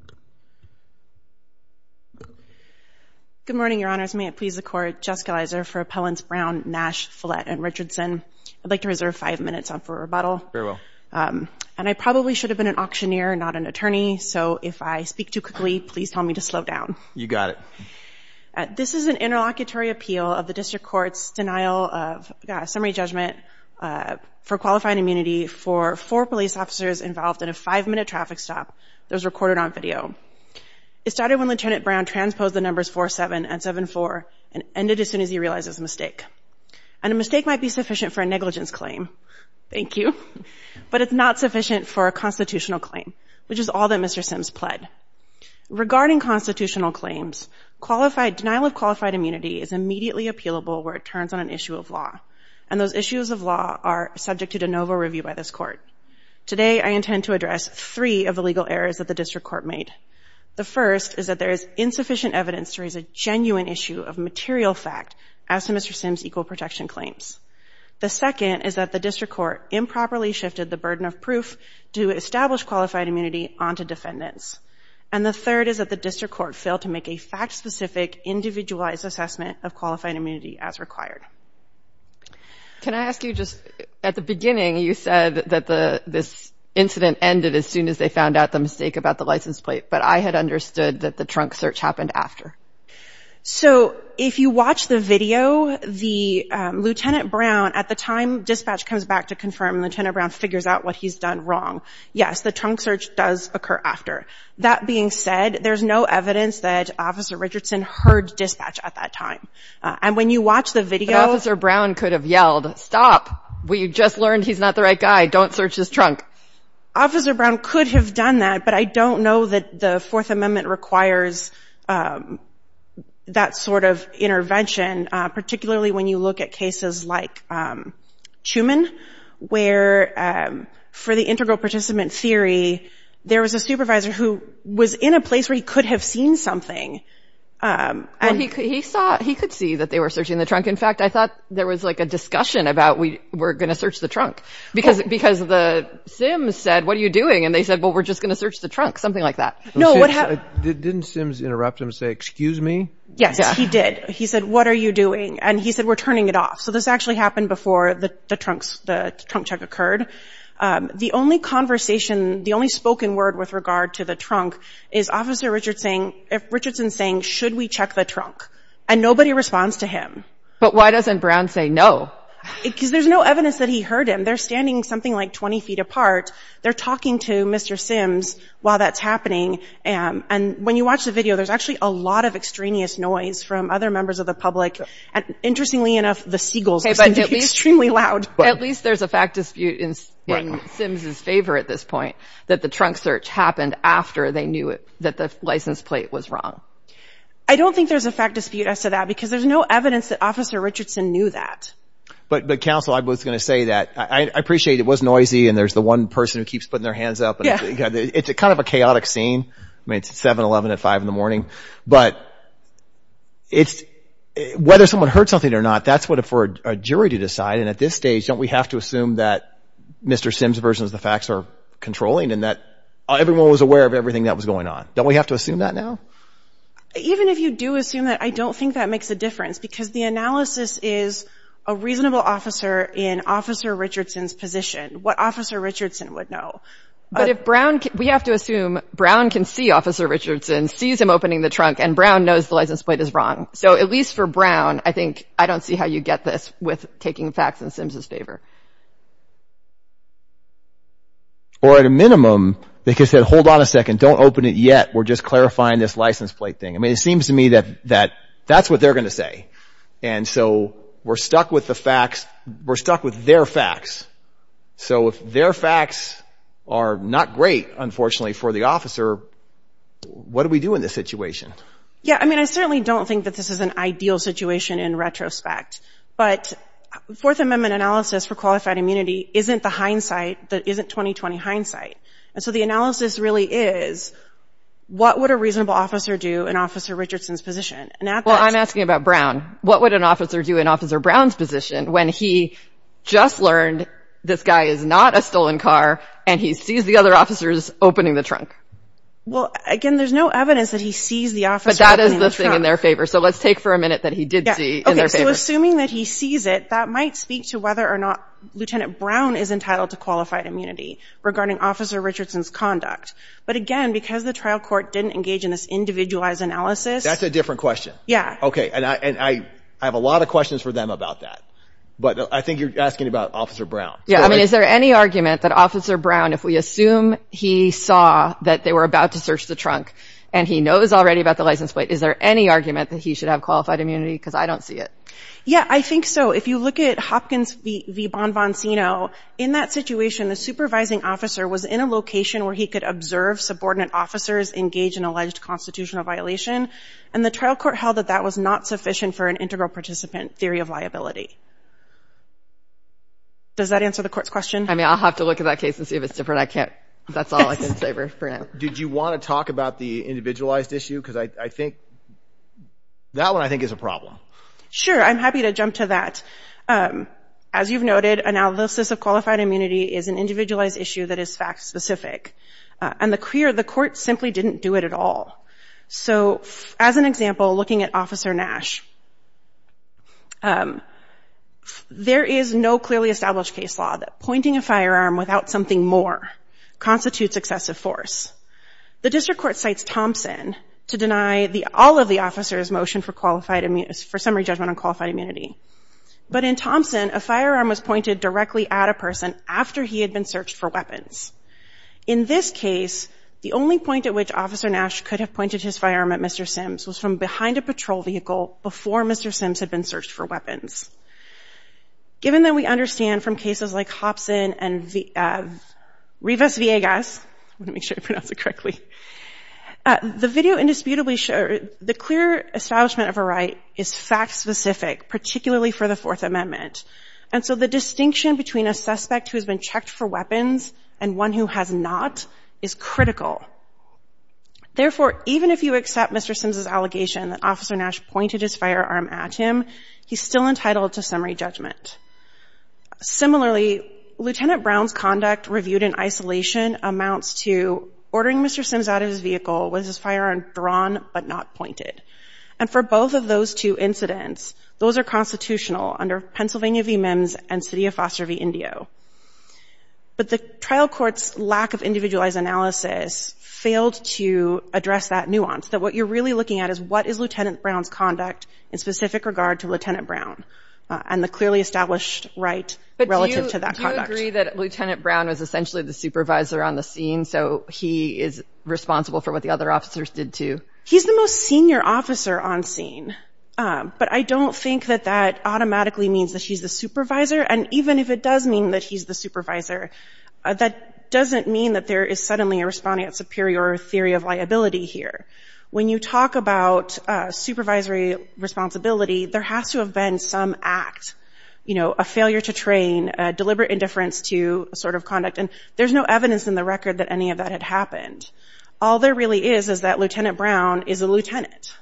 Nash, Follett, and Richardson Good morning, your honors. May it please the court, Jess Galizer for appellants Brown, Nash, Follett, and Richardson. I'd like to reserve five minutes for rebuttal. And I probably should have been an auctioneer, not an attorney, so if I speak too quickly, please tell me to slow down. This is an interlocutory appeal of the district court's denial of summary judgment for qualifying immunity for four police officers involved in a five-minute traffic stop that was recorded on video. It started when Lt. Brown transposed the numbers 47 and 74 and ended as soon as he realized it was a mistake. And a mistake might be sufficient for a negligence claim, thank you, but it's not sufficient for a constitutional claim, which is all that Mr. Sims pled. Regarding constitutional claims, denial of qualified immunity is immediately appealable where it turns on an issue of law, and those issues of law are subject to de novo review by this court. Today, I intend to address three of the legal errors that the district court made. The first is that there is insufficient evidence to raise a genuine issue of material fact as to Mr. Sims' equal protection claims. The second is that the district court improperly shifted the burden of proof to establish qualified immunity onto defendants. And the third is that the district court failed to make a fact-specific, individualized assessment of qualified immunity as required. Can I ask you just, at the beginning, you said that this incident ended as soon as they found out the mistake about the license plate, but I had understood that the trunk search happened after. So if you watch the video, the Lt. Brown, at the time dispatch comes back to confirm, Lt. Brown figures out what he's done wrong. Yes, the trunk search does occur after. That being said, there's no evidence that Officer Richardson heard dispatch at that time. And when you watch the video... But Officer Brown could have yelled, stop. We just learned he's not the right guy. Don't search his trunk. Officer Brown could have done that, but I don't know that the Fourth Amendment requires that sort of intervention, particularly when you look at cases like Tumen, where for the integral participant theory, there was a supervisor who was in a place where he could have seen something. He could see that they were searching the trunk. In fact, I thought there was like a discussion about, we're going to search the trunk, because the SIMS said, what are you doing? And they said, well, we're just going to search the trunk, something like that. Didn't SIMS interrupt him and say, excuse me? Yes, he did. He said, what are you doing? And he said, we're turning it off. So this actually happened before the trunk check occurred. The only conversation, the only spoken word with regard to the trunk is Officer Richardson saying, should we check the trunk? And nobody responds to him. But why doesn't Brown say no? Because there's no evidence that he heard him. They're standing something like 20 feet apart. They're talking to Mr. SIMS while that's happening. And when you watch the video, there's actually a lot of extraneous noise from other members of the public. Interestingly enough, the seagulls are extremely loud. At least there's a fact dispute in SIMS's favor at this point, that the trunk search happened after they knew that the license plate was wrong. I don't think there's a fact dispute as to that, because there's no evidence that Officer Richardson knew that. But counsel, I was going to say that. I appreciate it was noisy and there's the one person who keeps putting their hands up. It's kind of a chaotic scene. I mean, it's 7-11 at five in the morning. But whether someone heard something or not, that's for a jury to decide. And at this stage, don't we have to assume that Mr. SIMS's version of the facts are controlling and that everyone was aware of everything that was going on? Don't we have to assume that now? Even if you do assume that, I don't think that makes a difference, because the analysis is a reasonable officer in Officer Richardson's position. What Officer Richardson would know. But if Brown, we have to assume Brown can see Officer Richardson, sees him opening the trunk and Brown knows the license plate is wrong. So at least for Brown, I think, I don't see how you get this with taking facts in SIMS's favor. Or at a minimum, they could say, hold on a second, don't open it yet. We're just clarifying this license plate thing. I mean, it seems to me that that's what they're going to say. And so we're stuck with the facts. We're stuck with their facts. So if their facts are not great, unfortunately, for the officer, what do we do in this situation? Yeah, I mean, I certainly don't think that this is an ideal situation in retrospect. But Fourth Amendment analysis for qualified immunity isn't the hindsight that isn't 20-20 hindsight. And so the analysis really is, what would a reasonable officer do in Officer Richardson's position? Well, I'm asking about Brown. What would an officer do in Officer Brown's position when he just learned this guy is not a stolen car and he sees the other officers opening the trunk? Well, again, there's no evidence that he sees the officer opening the trunk. But that is the thing in their favor. So let's take for a minute that he did see in their favor. Okay, so assuming that he sees it, that might speak to whether or not Lieutenant Brown is entitled to qualified immunity regarding Officer Richardson's conduct. But again, because the trial court didn't engage in this individualized analysis... That's a different question. Yeah. Okay. And I have a lot of questions for them about that. But I think you're asking about Officer Brown. Yeah. I mean, is there any argument that Officer Brown, if we assume he saw that they were about to search the trunk and he knows already about the license plate, is there any argument that he should have qualified immunity? Because I don't see it. Yeah, I think so. If you look at Hopkins v. Bonvonsino, in that situation, the supervising officer was in a location where he could observe subordinate officers engage in alleged constitutional violation. And the trial court held that that was not sufficient for an integral participant theory of liability. Does that answer the court's question? I mean, I'll have to look at that case and see if it's different. I can't... That's all I can say for now. Did you want to talk about the individualized issue? Because I think that one, I think, is a problem. Sure. I'm happy to jump to that. As you've noted, analysis of qualified immunity is an individualized issue that is fact-specific. And the court simply didn't do it at all. So, as an example, looking at Officer Nash, there is no clearly established case law that pointing a firearm without something more constitutes excessive force. The district court cites Thompson to deny all of the officer's motion for summary judgment on qualified immunity. But in Thompson, a firearm was pointed directly at a person after he had been searched for weapons. The person who pointed his firearm at Mr. Sims was from behind a patrol vehicle before Mr. Sims had been searched for weapons. Given that we understand from cases like Hopson and Rivas-Villegas, the video indisputably showed the clear establishment of a right is fact-specific, particularly for the Fourth Amendment. And so the distinction between a suspect who has been checked for weapons and one who has not is critical. Therefore, even if you accept Mr. Sims' allegation that Officer Nash pointed his firearm at him, he's still entitled to summary judgment. Similarly, Lieutenant Brown's conduct reviewed in isolation amounts to ordering Mr. Sims out of his vehicle with his firearm drawn but not pointed. And for both of those two incidents, those are constitutional under Pennsylvania v. Mims and city of Foster v. Indio. But the trial court's lack of individualized analysis failed to address that nuance, that what you're really looking at is what is Lieutenant Brown's conduct in specific regard to Lieutenant Brown and the clearly established right relative to that conduct. But do you agree that Lieutenant Brown was essentially the supervisor on the scene, so he is responsible for what the other officers did too? He's the most senior officer on scene. But I don't think that that automatically means that he's the supervisor. And even if it does mean that he's the supervisor, that doesn't mean that there is suddenly a respondent superior theory of liability here. When you talk about supervisory responsibility, there has to have been some act, you know, a failure to train, a deliberate indifference to a sort of conduct. And there's no evidence in the record that any of that had happened. All there really is is that Lieutenant Brown is a lieutenant.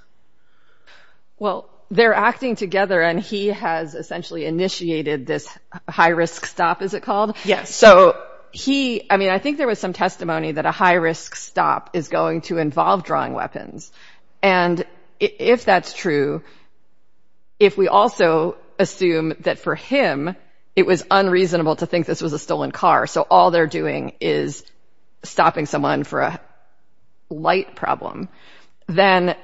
Well, they're acting together and he has essentially initiated this high-risk stop, is it called? Yes. So he, I mean, I think there was some testimony that a high-risk stop is going to involve drawing weapons. And if that's true, if we also assume that for him, it was unreasonable to think this was a stolen car, so all they're doing is stopping someone for a light problem, then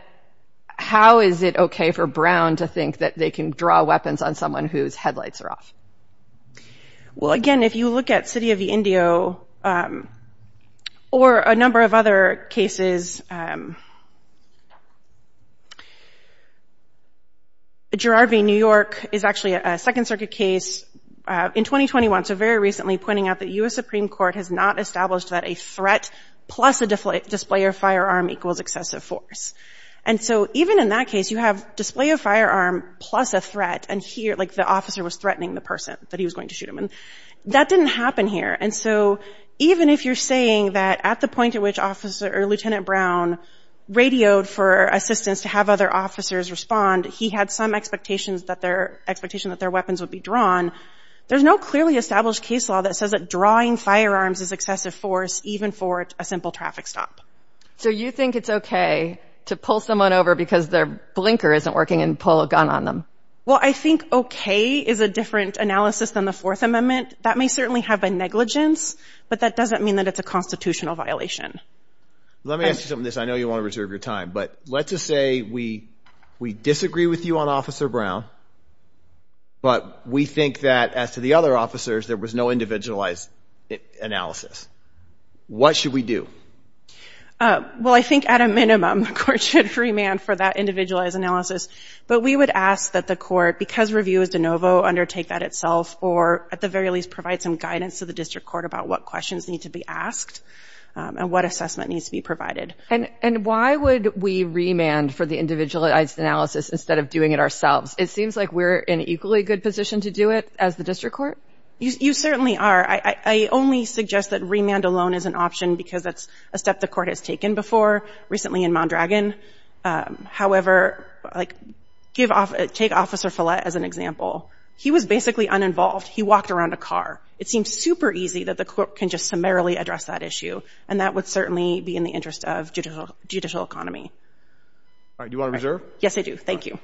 how is it okay for Brown to think that they can draw weapons on someone whose headlights are off? Well, again, if you look at City of the Indio or a number of other cases, Girard v. New York is actually a Second Circuit case in 2021. So very recently pointing out that U.S. Supreme Court has not established that a threat plus a display of firearm equals excessive force. And so even in that case, you have display of firearm plus a threat and here, like, the officer was threatening the person that he was going to shoot him. That didn't happen here. And so even if you're saying that at the point at which officer or Lieutenant Brown radioed for assistance to have other officers respond, he had some expectations that their weapons would be drawn, there's no clearly established case law that says that drawing firearms is excessive force, even for a simple traffic stop. So you think it's okay to pull someone over because their blinker isn't working and pull a gun on them? Well, I think okay is a different analysis than the Fourth Amendment. That may certainly have a negligence, but that doesn't mean that it's a constitutional violation. Let me ask you something. I know you want to reserve your time, but let's just say we disagree with you on Officer Brown, but we think that as to the other officers, there was no individualized analysis. What should we do? Well, I think at a minimum, courts should remand for that individualized analysis, but we would ask that the court, because review is de novo, undertake that itself or at the very least provide some guidance to the district court about what questions need to be asked and what assessment needs to be provided. And why would we remand for the individualized analysis instead of doing it ourselves? It seems like we're in an equally good position to do it as the district court. You certainly are. I only suggest that remand alone is an option because that's a step the court has taken before, recently in Mondragon. However, like take Officer Follett as an example. He was basically uninvolved. He walked around a car. It seems super easy that the court can just summarily address that issue, and that would certainly be in the interest of judicial economy. All right. Do you want to reserve? Yes, I do. Thank you.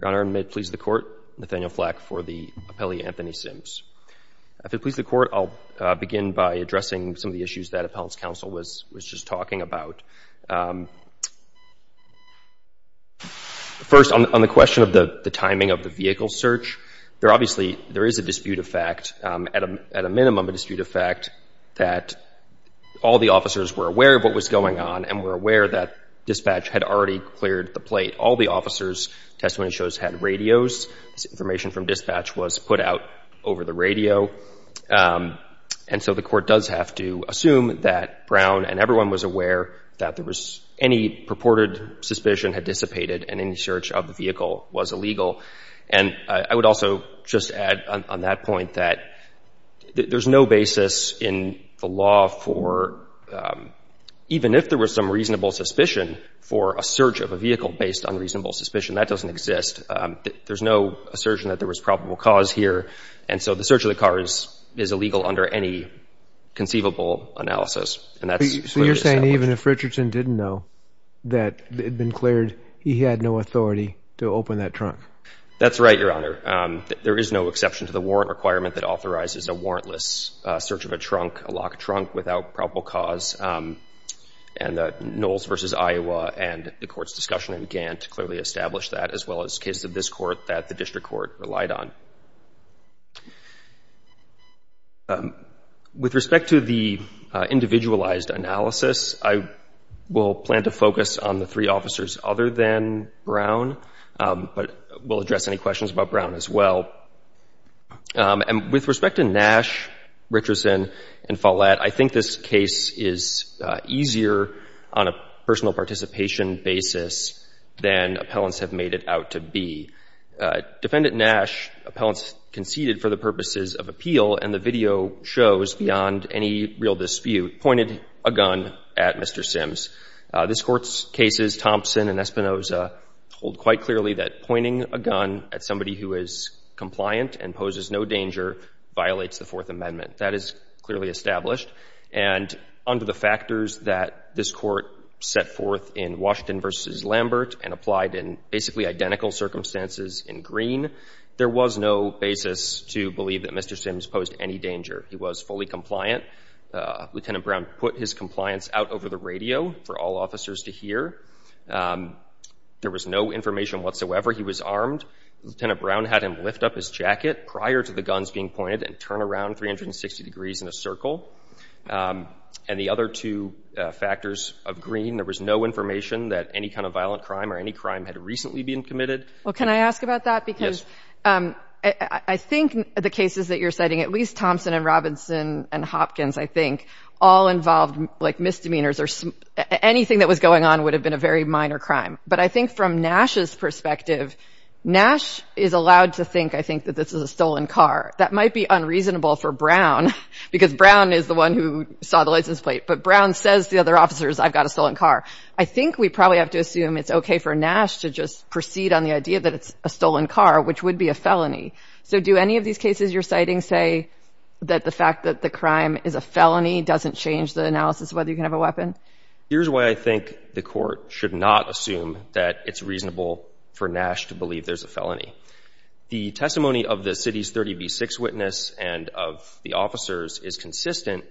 Your Honor, and may it please the Court, Nathaniel Flack for the appellee, Anthony Sims. If it pleases the Court, I'll begin by addressing some of the issues that Appellant's Counsel was just talking about. First, on the question of the timing of the vehicle search, there obviously, there is a dispute of fact, at a minimum a dispute of fact, that all the officers were aware of what was going on and were aware that dispatch had already cleared the plate. All the officers' testimony shows had radios. Information from dispatch was put out over the radio. And so the court does have to assume that Brown and everyone was aware that there was any purported suspicion had dissipated and any search of the vehicle was illegal. And I would also just add on that point that there's no basis in the law for, even if there was some reasonable suspicion, for a search of a vehicle based on reasonable suspicion. That doesn't exist. There's no assertion that there was probable cause here. And so the search of the car is illegal under any conceivable analysis. So you're saying even if Richardson didn't know that it had been cleared, he had no authority to open that trunk? That's right, Your Honor. There is no exception to the warrant requirement that authorizes a warrantless search of a trunk, a locked trunk, without probable cause. And the Knowles v. Iowa and the court's discussion began to clearly establish that, as well as cases of this court that the district court relied on. With respect to the individualized analysis, I will plan to focus on the three officers other than Brown. But we'll address any questions about Brown as well. And with respect to Nash, Richardson, and Follett, I think this case is easier on a personal participation basis than appellants have made it out to be. Defendant Nash, appellants conceded for the purposes of appeal, and the video shows beyond any real dispute, pointed a gun at Mr. Sims. This Court's cases, Thompson and Espinoza, hold quite clearly that pointing a gun at somebody who is compliant and poses no danger violates the Fourth Amendment. That is clearly established. And under the factors that this Court set forth in Washington v. Lambert and applied in basically identical circumstances in Green, there was no basis to believe that Mr. Sims posed any danger. He was fully compliant. Lieutenant Brown put his compliance out over the radio for all officers to hear. There was no information whatsoever. He was armed. Lieutenant Brown had him lift up his jacket prior to the guns being pointed and turn around 360 degrees in a circle. And the other two factors of Green, there was no information that any kind of violent crime or any crime had recently been committed. Well, can I ask about that? Because I think the cases that you're citing, at least Thompson and Robinson and Hopkins, I think, all involved misdemeanors or anything that was going on would have been a very minor crime. But I think from Nash's perspective, Nash is allowed to think, I think, that this is a stolen car. That might be unreasonable for Brown, because Brown is the one who saw the license plate. But Brown says to the other officers, I've got a stolen car. I think we probably have to assume it's okay for Nash to just proceed on the idea that it's a stolen car, which would be a felony. So do any of these cases you're citing say that the fact that the crime is a felony doesn't change the analysis of whether you can have a weapon? Here's why I think the court should not assume that it's reasonable for Nash to believe there's a felony. The testimony of the city's 30B6 witness and of the officers is consistent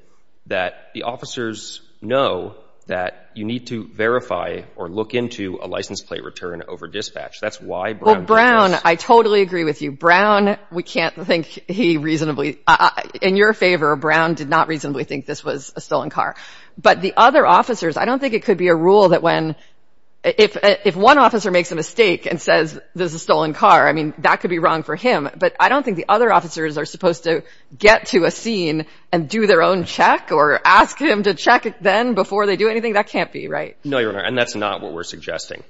that the officers know that you need to verify or look into a license plate return over dispatch. That's why Brown— Well, Brown, I totally agree with you. Brown, we can't think he reasonably—in your favor, Brown did not reasonably think this was a stolen car. But the other officers, I don't think it could be a rule that when—if one officer makes a mistake and says this is a stolen car, I mean, that could be wrong for him. But I don't think the other officers are supposed to get to a scene and do their own check or ask him to check it then before they do anything. That can't be right. No, Your Honor, and that's not what we're suggesting.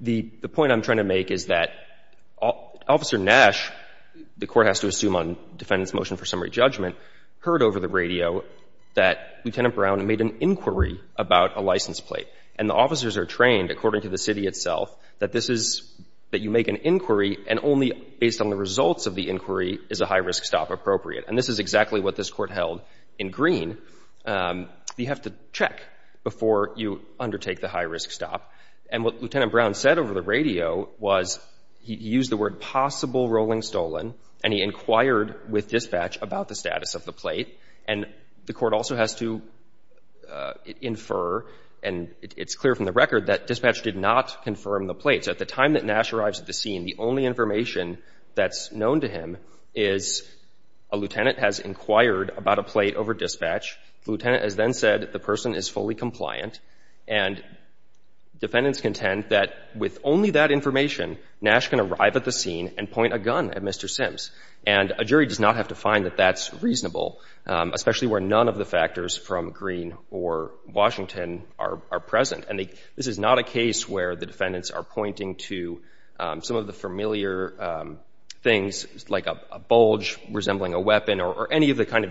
The point I'm trying to make is that Officer Nash, the court has to assume on defendant's motion for summary judgment, heard over the radio that Lieutenant Brown made an inquiry about a license plate. And the officers are trained, according to the city itself, that this is—that you make an inquiry and only based on the results of the inquiry is a high-risk stop appropriate. And this is exactly what this court held in Green. You have to check before you undertake the high-risk stop. And what Lieutenant Brown said over the radio was he used the word possible rolling stolen, and he inquired with dispatch about the status of the plate. And the court also has to infer, and it's clear from the record, that dispatch did not confirm the plate. So at the time that Nash arrives at the scene, the only information that's known to him is a lieutenant has inquired about a plate over dispatch. The lieutenant has then said the person is fully compliant, and defendants contend that with only that information, Nash can arrive at the scene and point a gun at Mr. Sims. And a jury does not have to find that that's reasonable, especially where none of the factors from Green or Washington are present. And this is not a case where the defendants are pointing to some of the familiar things like a bulge resembling a weapon or any of the kind of things they're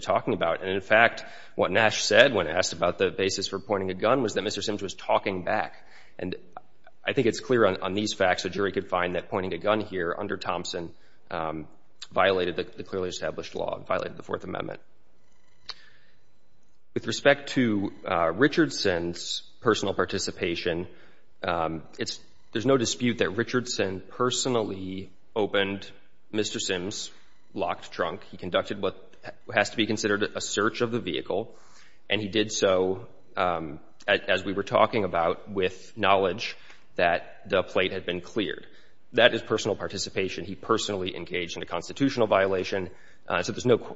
talking about. And in fact, what Nash said when asked about the basis for pointing a gun was that Mr. Sims was talking back. And I think it's clear on these facts a jury could find that pointing a gun here under Thompson violated the clearly established law and violated the Fourth Amendment. With respect to Richardson's personal participation, there's no dispute that Richardson personally opened Mr. Sims' locked trunk. He conducted what has to be considered a search of the vehicle, and he did so, as we were talking about, with knowledge that the plate had been cleared. That is personal participation. He personally engaged in a constitutional violation. So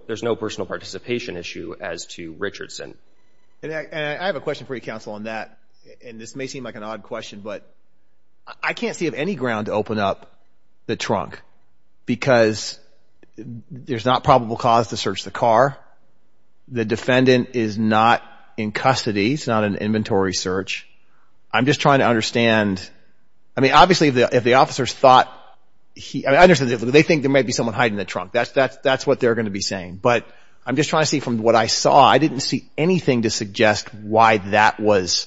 there's no personal participation issue as to Richardson. And I have a question for you, counsel, on that. And this may seem like an odd question, but I can't see of any ground to open up the trunk because there's not probable cause to search the car. The defendant is not in custody. It's not an inventory search. I'm just trying to understand. I mean, obviously, if the officers thought he understood that they think there may be someone hiding the trunk, that's what they're going to be saying. But I'm just trying to see from what I saw, I didn't see anything to suggest why that was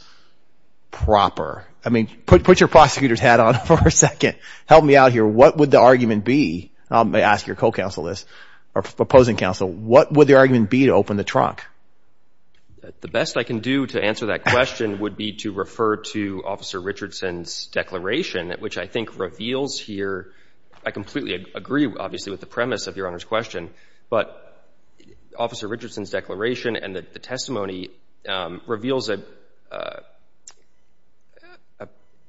proper. I mean, put your prosecutor's hat on for a second. Help me out here. What would the argument be? I'll ask your co-counsel this, or opposing counsel. What would the argument be to open the trunk? The best I can do to answer that question would be to refer to Officer Richardson's declaration, which I think reveals here, I completely agree, obviously, with the premise of Your Honor's question, but Officer Richardson's declaration and the testimony reveals a very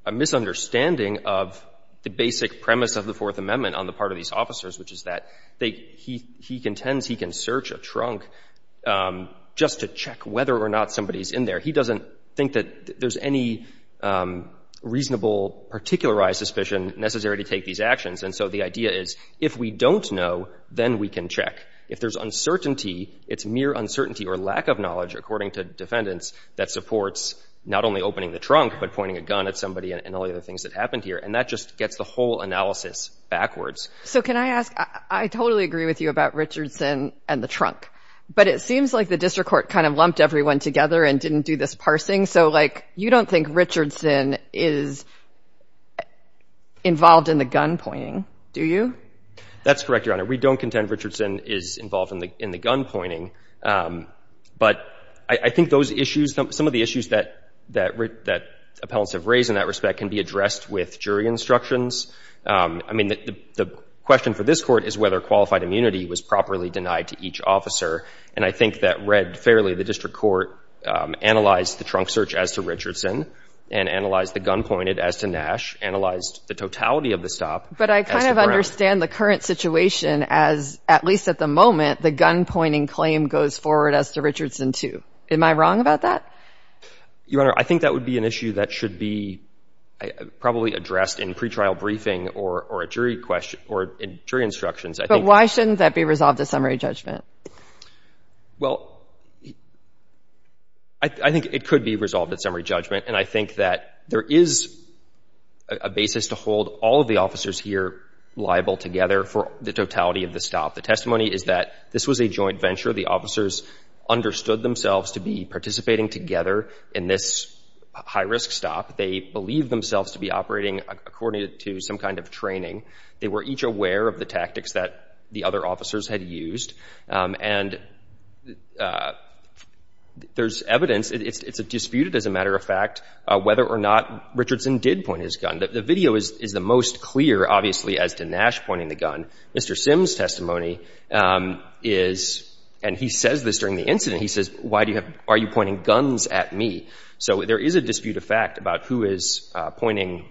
a misunderstanding of the basic premise of the Fourth Amendment on the part of these officers, which is that he contends he can search a trunk just to check whether or not somebody's in there. He doesn't think that there's any reasonable, particularized suspicion necessary to take these actions. And so the idea is, if we don't know, then we can check. If there's uncertainty, it's mere uncertainty or lack of knowledge, according to defendants, that supports not only opening the trunk, but pointing a gun at somebody and all the other things that happened here. And that just gets the whole analysis backwards. So can I ask, I totally agree with you about Richardson and the trunk, but it seems like the district court kind of lumped everyone together and didn't do this parsing. So like, you don't think Richardson is involved in the gun pointing, do you? That's correct, Your Honor. We don't contend Richardson is involved in the gun pointing. But I think those issues, some of the issues that appellants have raised in that respect can be addressed with jury instructions. I mean, the question for this court is whether qualified immunity was properly denied to each officer. And I think that read fairly, the district court analyzed the trunk search as to Richardson and analyzed the gun pointed as to Nash, analyzed the totality of the stop. But I kind of understand the current situation as, at least at the moment, the gun pointing claim goes forward as to Richardson, too. Am I wrong about that? Your Honor, I think that would be an issue that should be probably addressed in pre-trial briefing or a jury question or jury instructions. But why shouldn't that be resolved at summary judgment? Well, I think it could be resolved at summary judgment. And I think that there is a basis to hold all of the officers here liable together for the totality of the stop. The testimony is that this was a joint venture. The officers understood themselves to be participating together in this high-risk stop. They believed themselves to be operating according to some kind of training. They were each aware of the tactics that the other officers had used. And there's evidence. It's disputed, as a matter of fact, whether or not Richardson did point his gun. The video is the most clear, obviously, as to Nash pointing the gun. Mr. Sims' testimony is, and he says this during the incident, he says, why are you pointing guns at me? So there is a dispute of fact about who is pointing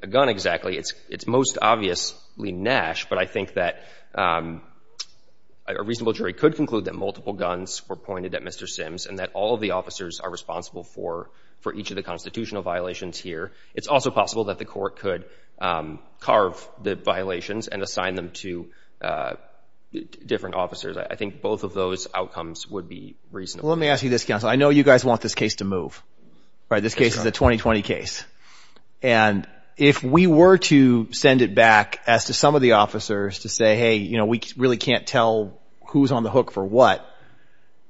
a gun exactly. It's most obviously Nash. But I think that a reasonable jury could conclude that multiple guns were pointed at Mr. Sims and that all of the officers are responsible for each of the constitutional violations here. It's also possible that the court could carve the violations and assign them to different officers. I think both of those outcomes would be reasonable. Let me ask you this, counsel. I know you guys want this case to move, right? This case is a 2020 case. And if we were to send it back as to some of the officers to say, hey, you know, we really can't tell who's on the hook for what,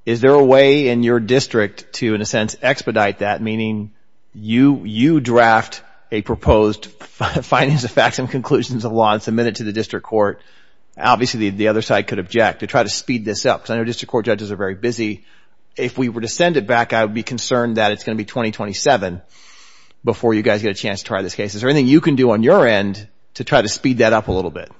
is there a way in your district to, in a sense, expedite that? Meaning you draft a proposed findings of facts and conclusions of law and submit it to the district court. Obviously, the other side could object to try to speed this up. Because I know district court judges are very busy. If we were to send it back, I would be concerned that it's going to be 2027 before you guys get a chance to try this case. Is there anything you can do on your end to try to speed that up a little bit?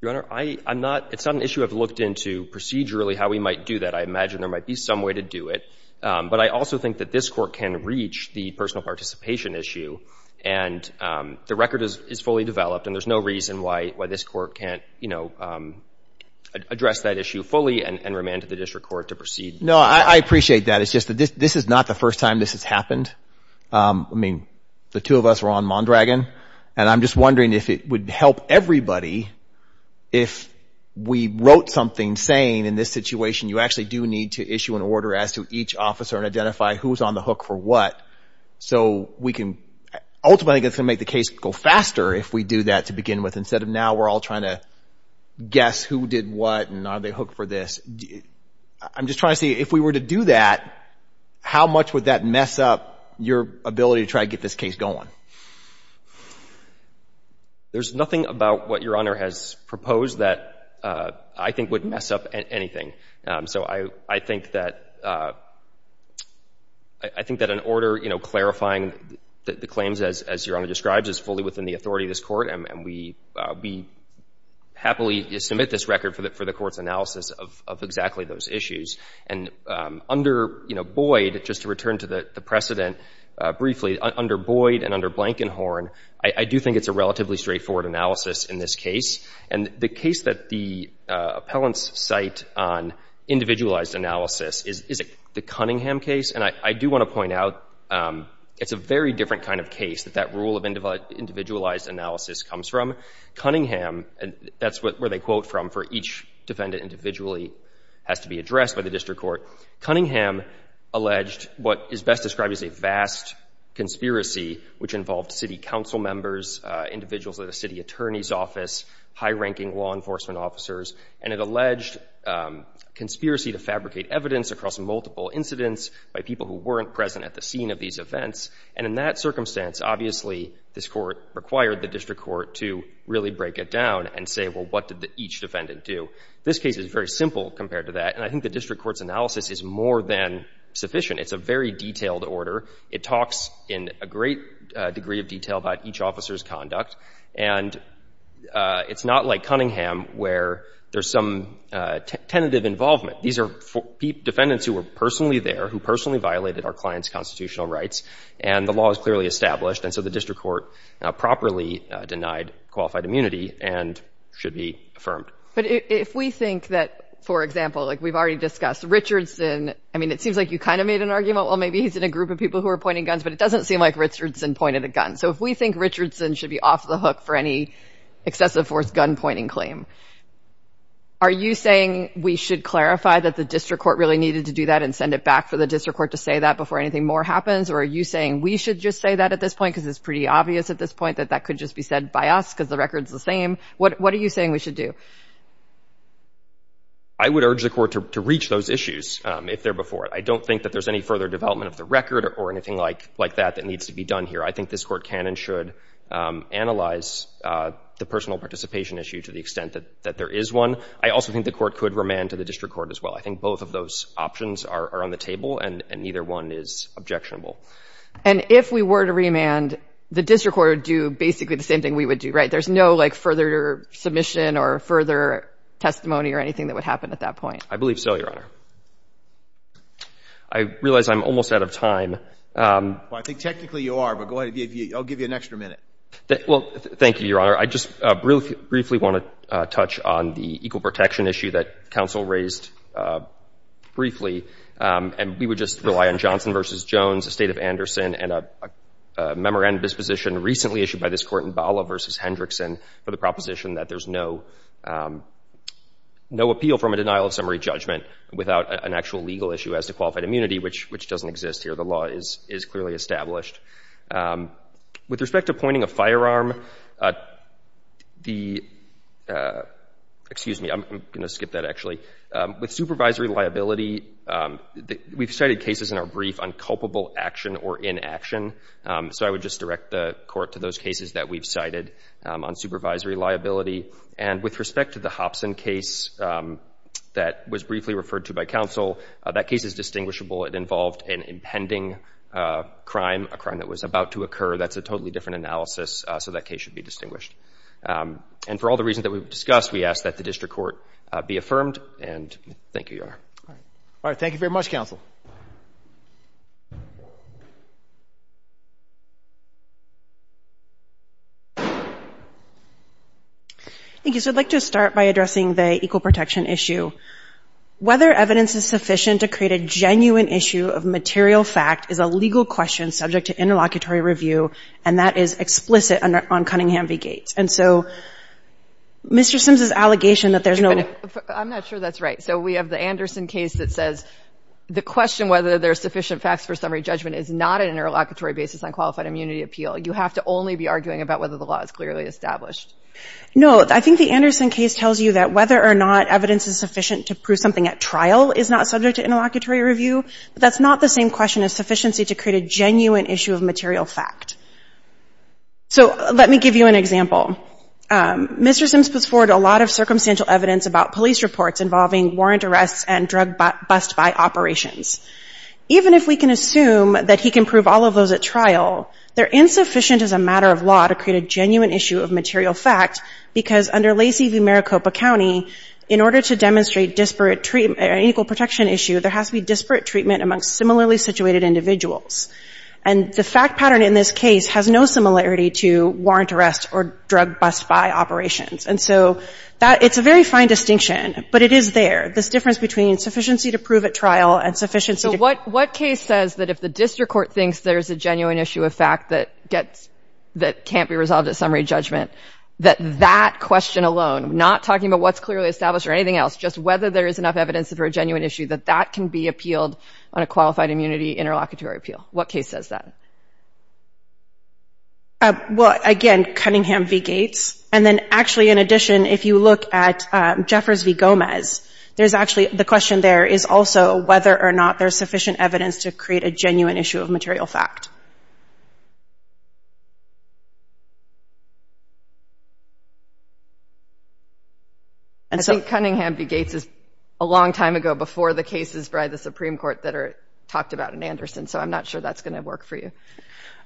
Your Honor, it's not an issue I've looked into procedurally how we might do that. I imagine there might be some way to do it. But I also think that this court can reach the personal participation issue. And the record is fully developed. And there's no reason why this court can't, you know, address that issue fully and remand to the district court to proceed. No, I appreciate that. It's just that this is not the first time this has happened. I mean, the two of us were on Mondragon. And I'm just wondering if it would help everybody if we wrote something saying, in this situation, you actually do need issue an order as to each officer and identify who's on the hook for what. So we can ultimately make the case go faster if we do that to begin with. Instead of now we're all trying to guess who did what and are they hooked for this. I'm just trying to see if we were to do that, how much would that mess up your ability to try to get this case going? There's nothing about what Your Honor has proposed that I think would mess up anything. So I think that an order, you know, clarifying the claims, as Your Honor describes, is fully within the authority of this court. And we happily submit this record for the court's analysis of exactly those issues. And under Boyd, just to return to the precedent briefly, under Boyd and under Blankenhorn, I do think it's a relatively straightforward analysis in this case. And the case that the appellants cite on individualized analysis is the Cunningham case. And I do want to point out it's a very different kind of case that that rule of individualized analysis comes from. Cunningham, that's where they quote from for each defendant individually, has to be addressed by the district court. Cunningham alleged what is best described as a vast conspiracy, which involved city council members, individuals of the city attorney's office, high-ranking law enforcement officers. And it alleged conspiracy to fabricate evidence across multiple incidents by people who weren't present at the scene of these events. And in that circumstance, obviously, this court required the district court to really break it down and say, well, what did each defendant do? This case is very simple compared to that. And I think the great degree of detail about each officer's conduct. And it's not like Cunningham where there's some tentative involvement. These are defendants who were personally there, who personally violated our client's constitutional rights. And the law is clearly established. And so the district court properly denied qualified immunity and should be affirmed. But if we think that, for example, like we've already discussed, Richardson, I mean, it seems like you kind of made an argument, well, maybe he's in a group of people who are pointing guns, but it doesn't seem like Richardson pointed a gun. So if we think Richardson should be off the hook for any excessive force gun pointing claim, are you saying we should clarify that the district court really needed to do that and send it back for the district court to say that before anything more happens? Or are you saying we should just say that at this point? Because it's pretty obvious at this point that that could just be said by us because the record's the same. What are you saying we should do? I would urge the court to reach those issues if they're before it. I don't think that there's any further development of the record or anything like that that needs to be done here. I think this court can and should analyze the personal participation issue to the extent that there is one. I also think the court could remand to the district court as well. I think both of those options are on the table, and neither one is objectionable. And if we were to remand, the district court would do basically the same thing we would do, right? There's no, like, further submission or further testimony or anything that would happen at that point? I believe so, Your Honor. I realize I'm almost out of time. Well, I think technically you are, but go ahead. I'll give you an extra minute. Well, thank you, Your Honor. I just briefly want to touch on the equal protection issue that counsel raised briefly. And we would just rely on Johnson v. Jones, the state of Anderson, and a memorandum disposition recently issued by this court in Bala v. Hendrickson for the proposition that there's no appeal from a denial of summary judgment without an actual legal issue as to qualified immunity, which doesn't exist here. The law is clearly established. With respect to pointing a firearm, the—excuse me, I'm going to skip that, actually. With supervisory liability, we've cited cases in our brief on culpable action or inaction, so I would just direct the court to those cases that we've cited on supervisory liability. And with respect to the Hobson case that was briefly referred to by counsel, that case is distinguishable. It involved an impending crime, a crime that was about to occur. That's a totally different analysis, so that case should be distinguished. And for all the reasons that we've discussed, we ask that the district court be affirmed, and thank you, Your Honor. All right. Thank you very much, counsel. Thank you. So I'd like to start by addressing the equal protection issue. Whether evidence is sufficient to create a genuine issue of material fact is a legal question subject to interlocutory review, and that is explicit on Cunningham v. Gates. And so Mr. Sims's allegation that there's no— I'm not sure that's right. So we have the Anderson case that says the question whether there are sufficient facts for summary judgment is not an interlocutory basis on qualified immunity appeal. You have to only be arguing about whether the law is clearly established. No. I think the Anderson case tells you that whether or not evidence is sufficient to prove something at trial is not subject to interlocutory review, but that's not the same question as sufficiency to create a genuine issue of material fact. So let me give you an example. Mr. Sims puts forward a lot of circumstantial evidence about police reports involving warrant arrests and drug bust-by operations. Even if we can assume that he can prove all of those at trial, they're insufficient as a matter of law to create a genuine issue of material fact because under Lacey v. Maricopa County, in order to demonstrate disparate treatment or an equal protection issue, there has to be disparate treatment amongst similarly situated individuals. And the fact pattern in this case has no similarity to warrant arrests or drug bust-by operations. And so that — it's a very fine distinction, but it is there, this difference between sufficiency to prove at trial and sufficiency— What case says that if the district court thinks there's a genuine issue of fact that can't be resolved at summary judgment, that that question alone, not talking about what's clearly established or anything else, just whether there is enough evidence for a genuine issue, that that can be appealed on a qualified immunity interlocutory appeal? What case says that? Well, again, Cunningham v. Gates. And then actually, in addition, if you look at to create a genuine issue of material fact. I think Cunningham v. Gates is a long time ago before the cases by the Supreme Court that are talked about in Anderson, so I'm not sure that's going to work for you.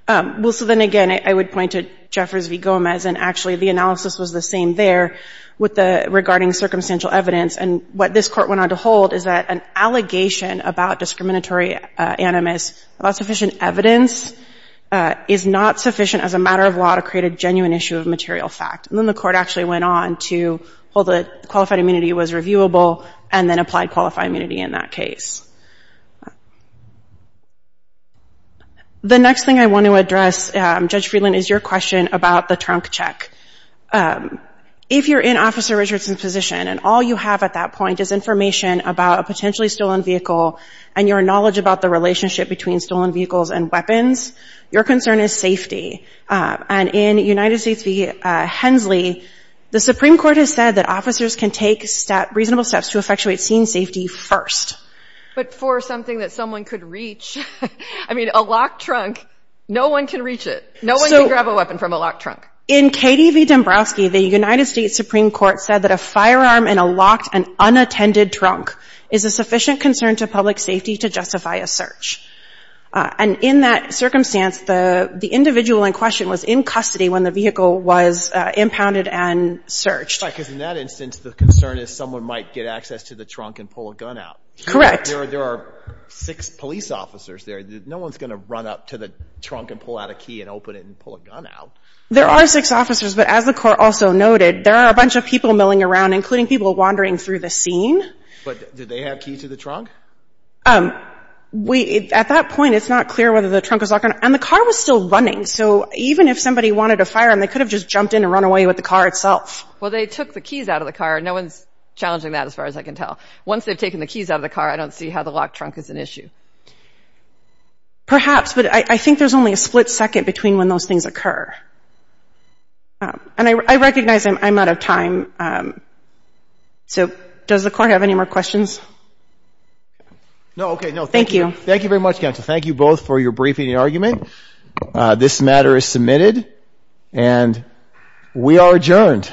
Well, so then again, I would point to Jeffers v. Gomez. And actually, the analysis was the same there regarding circumstantial evidence. And what this court went on to hold is that an animus about sufficient evidence is not sufficient as a matter of law to create a genuine issue of material fact. And then the court actually went on to hold that qualified immunity was reviewable and then applied qualified immunity in that case. The next thing I want to address, Judge Friedland, is your question about the trunk check. If you're in Officer Richardson's position and all you have at that point is information about a potentially stolen vehicle and your knowledge about the relationship between stolen vehicles and weapons, your concern is safety. And in United States v. Hensley, the Supreme Court has said that officers can take reasonable steps to effectuate scene safety first. But for something that someone could reach, I mean, a locked trunk, no one can reach it. No one can grab a weapon from a locked trunk. In Katie v. Dombrowski, the United States Supreme Court said that a firearm in a locked and is a sufficient concern to public safety to justify a search. And in that circumstance, the individual in question was in custody when the vehicle was impounded and searched. Right, because in that instance, the concern is someone might get access to the trunk and pull a gun out. Correct. There are six police officers there. No one's going to run up to the trunk and pull out a key and open it and pull a gun out. There are six officers, but as the court also noted, there are a bunch of people milling around, including people wandering through the scene. But did they have keys to the trunk? At that point, it's not clear whether the trunk was locked. And the car was still running. So even if somebody wanted a firearm, they could have just jumped in and run away with the car itself. Well, they took the keys out of the car. No one's challenging that, as far as I can tell. Once they've taken the keys out of the car, I don't see how the locked trunk is an issue. Perhaps, but I think there's only a split second between when those things occur. And I recognize I'm out of time. Um, so does the court have any more questions? No. Okay. No, thank you. Thank you very much, counsel. Thank you both for your briefing and argument. This matter is submitted and we are adjourned.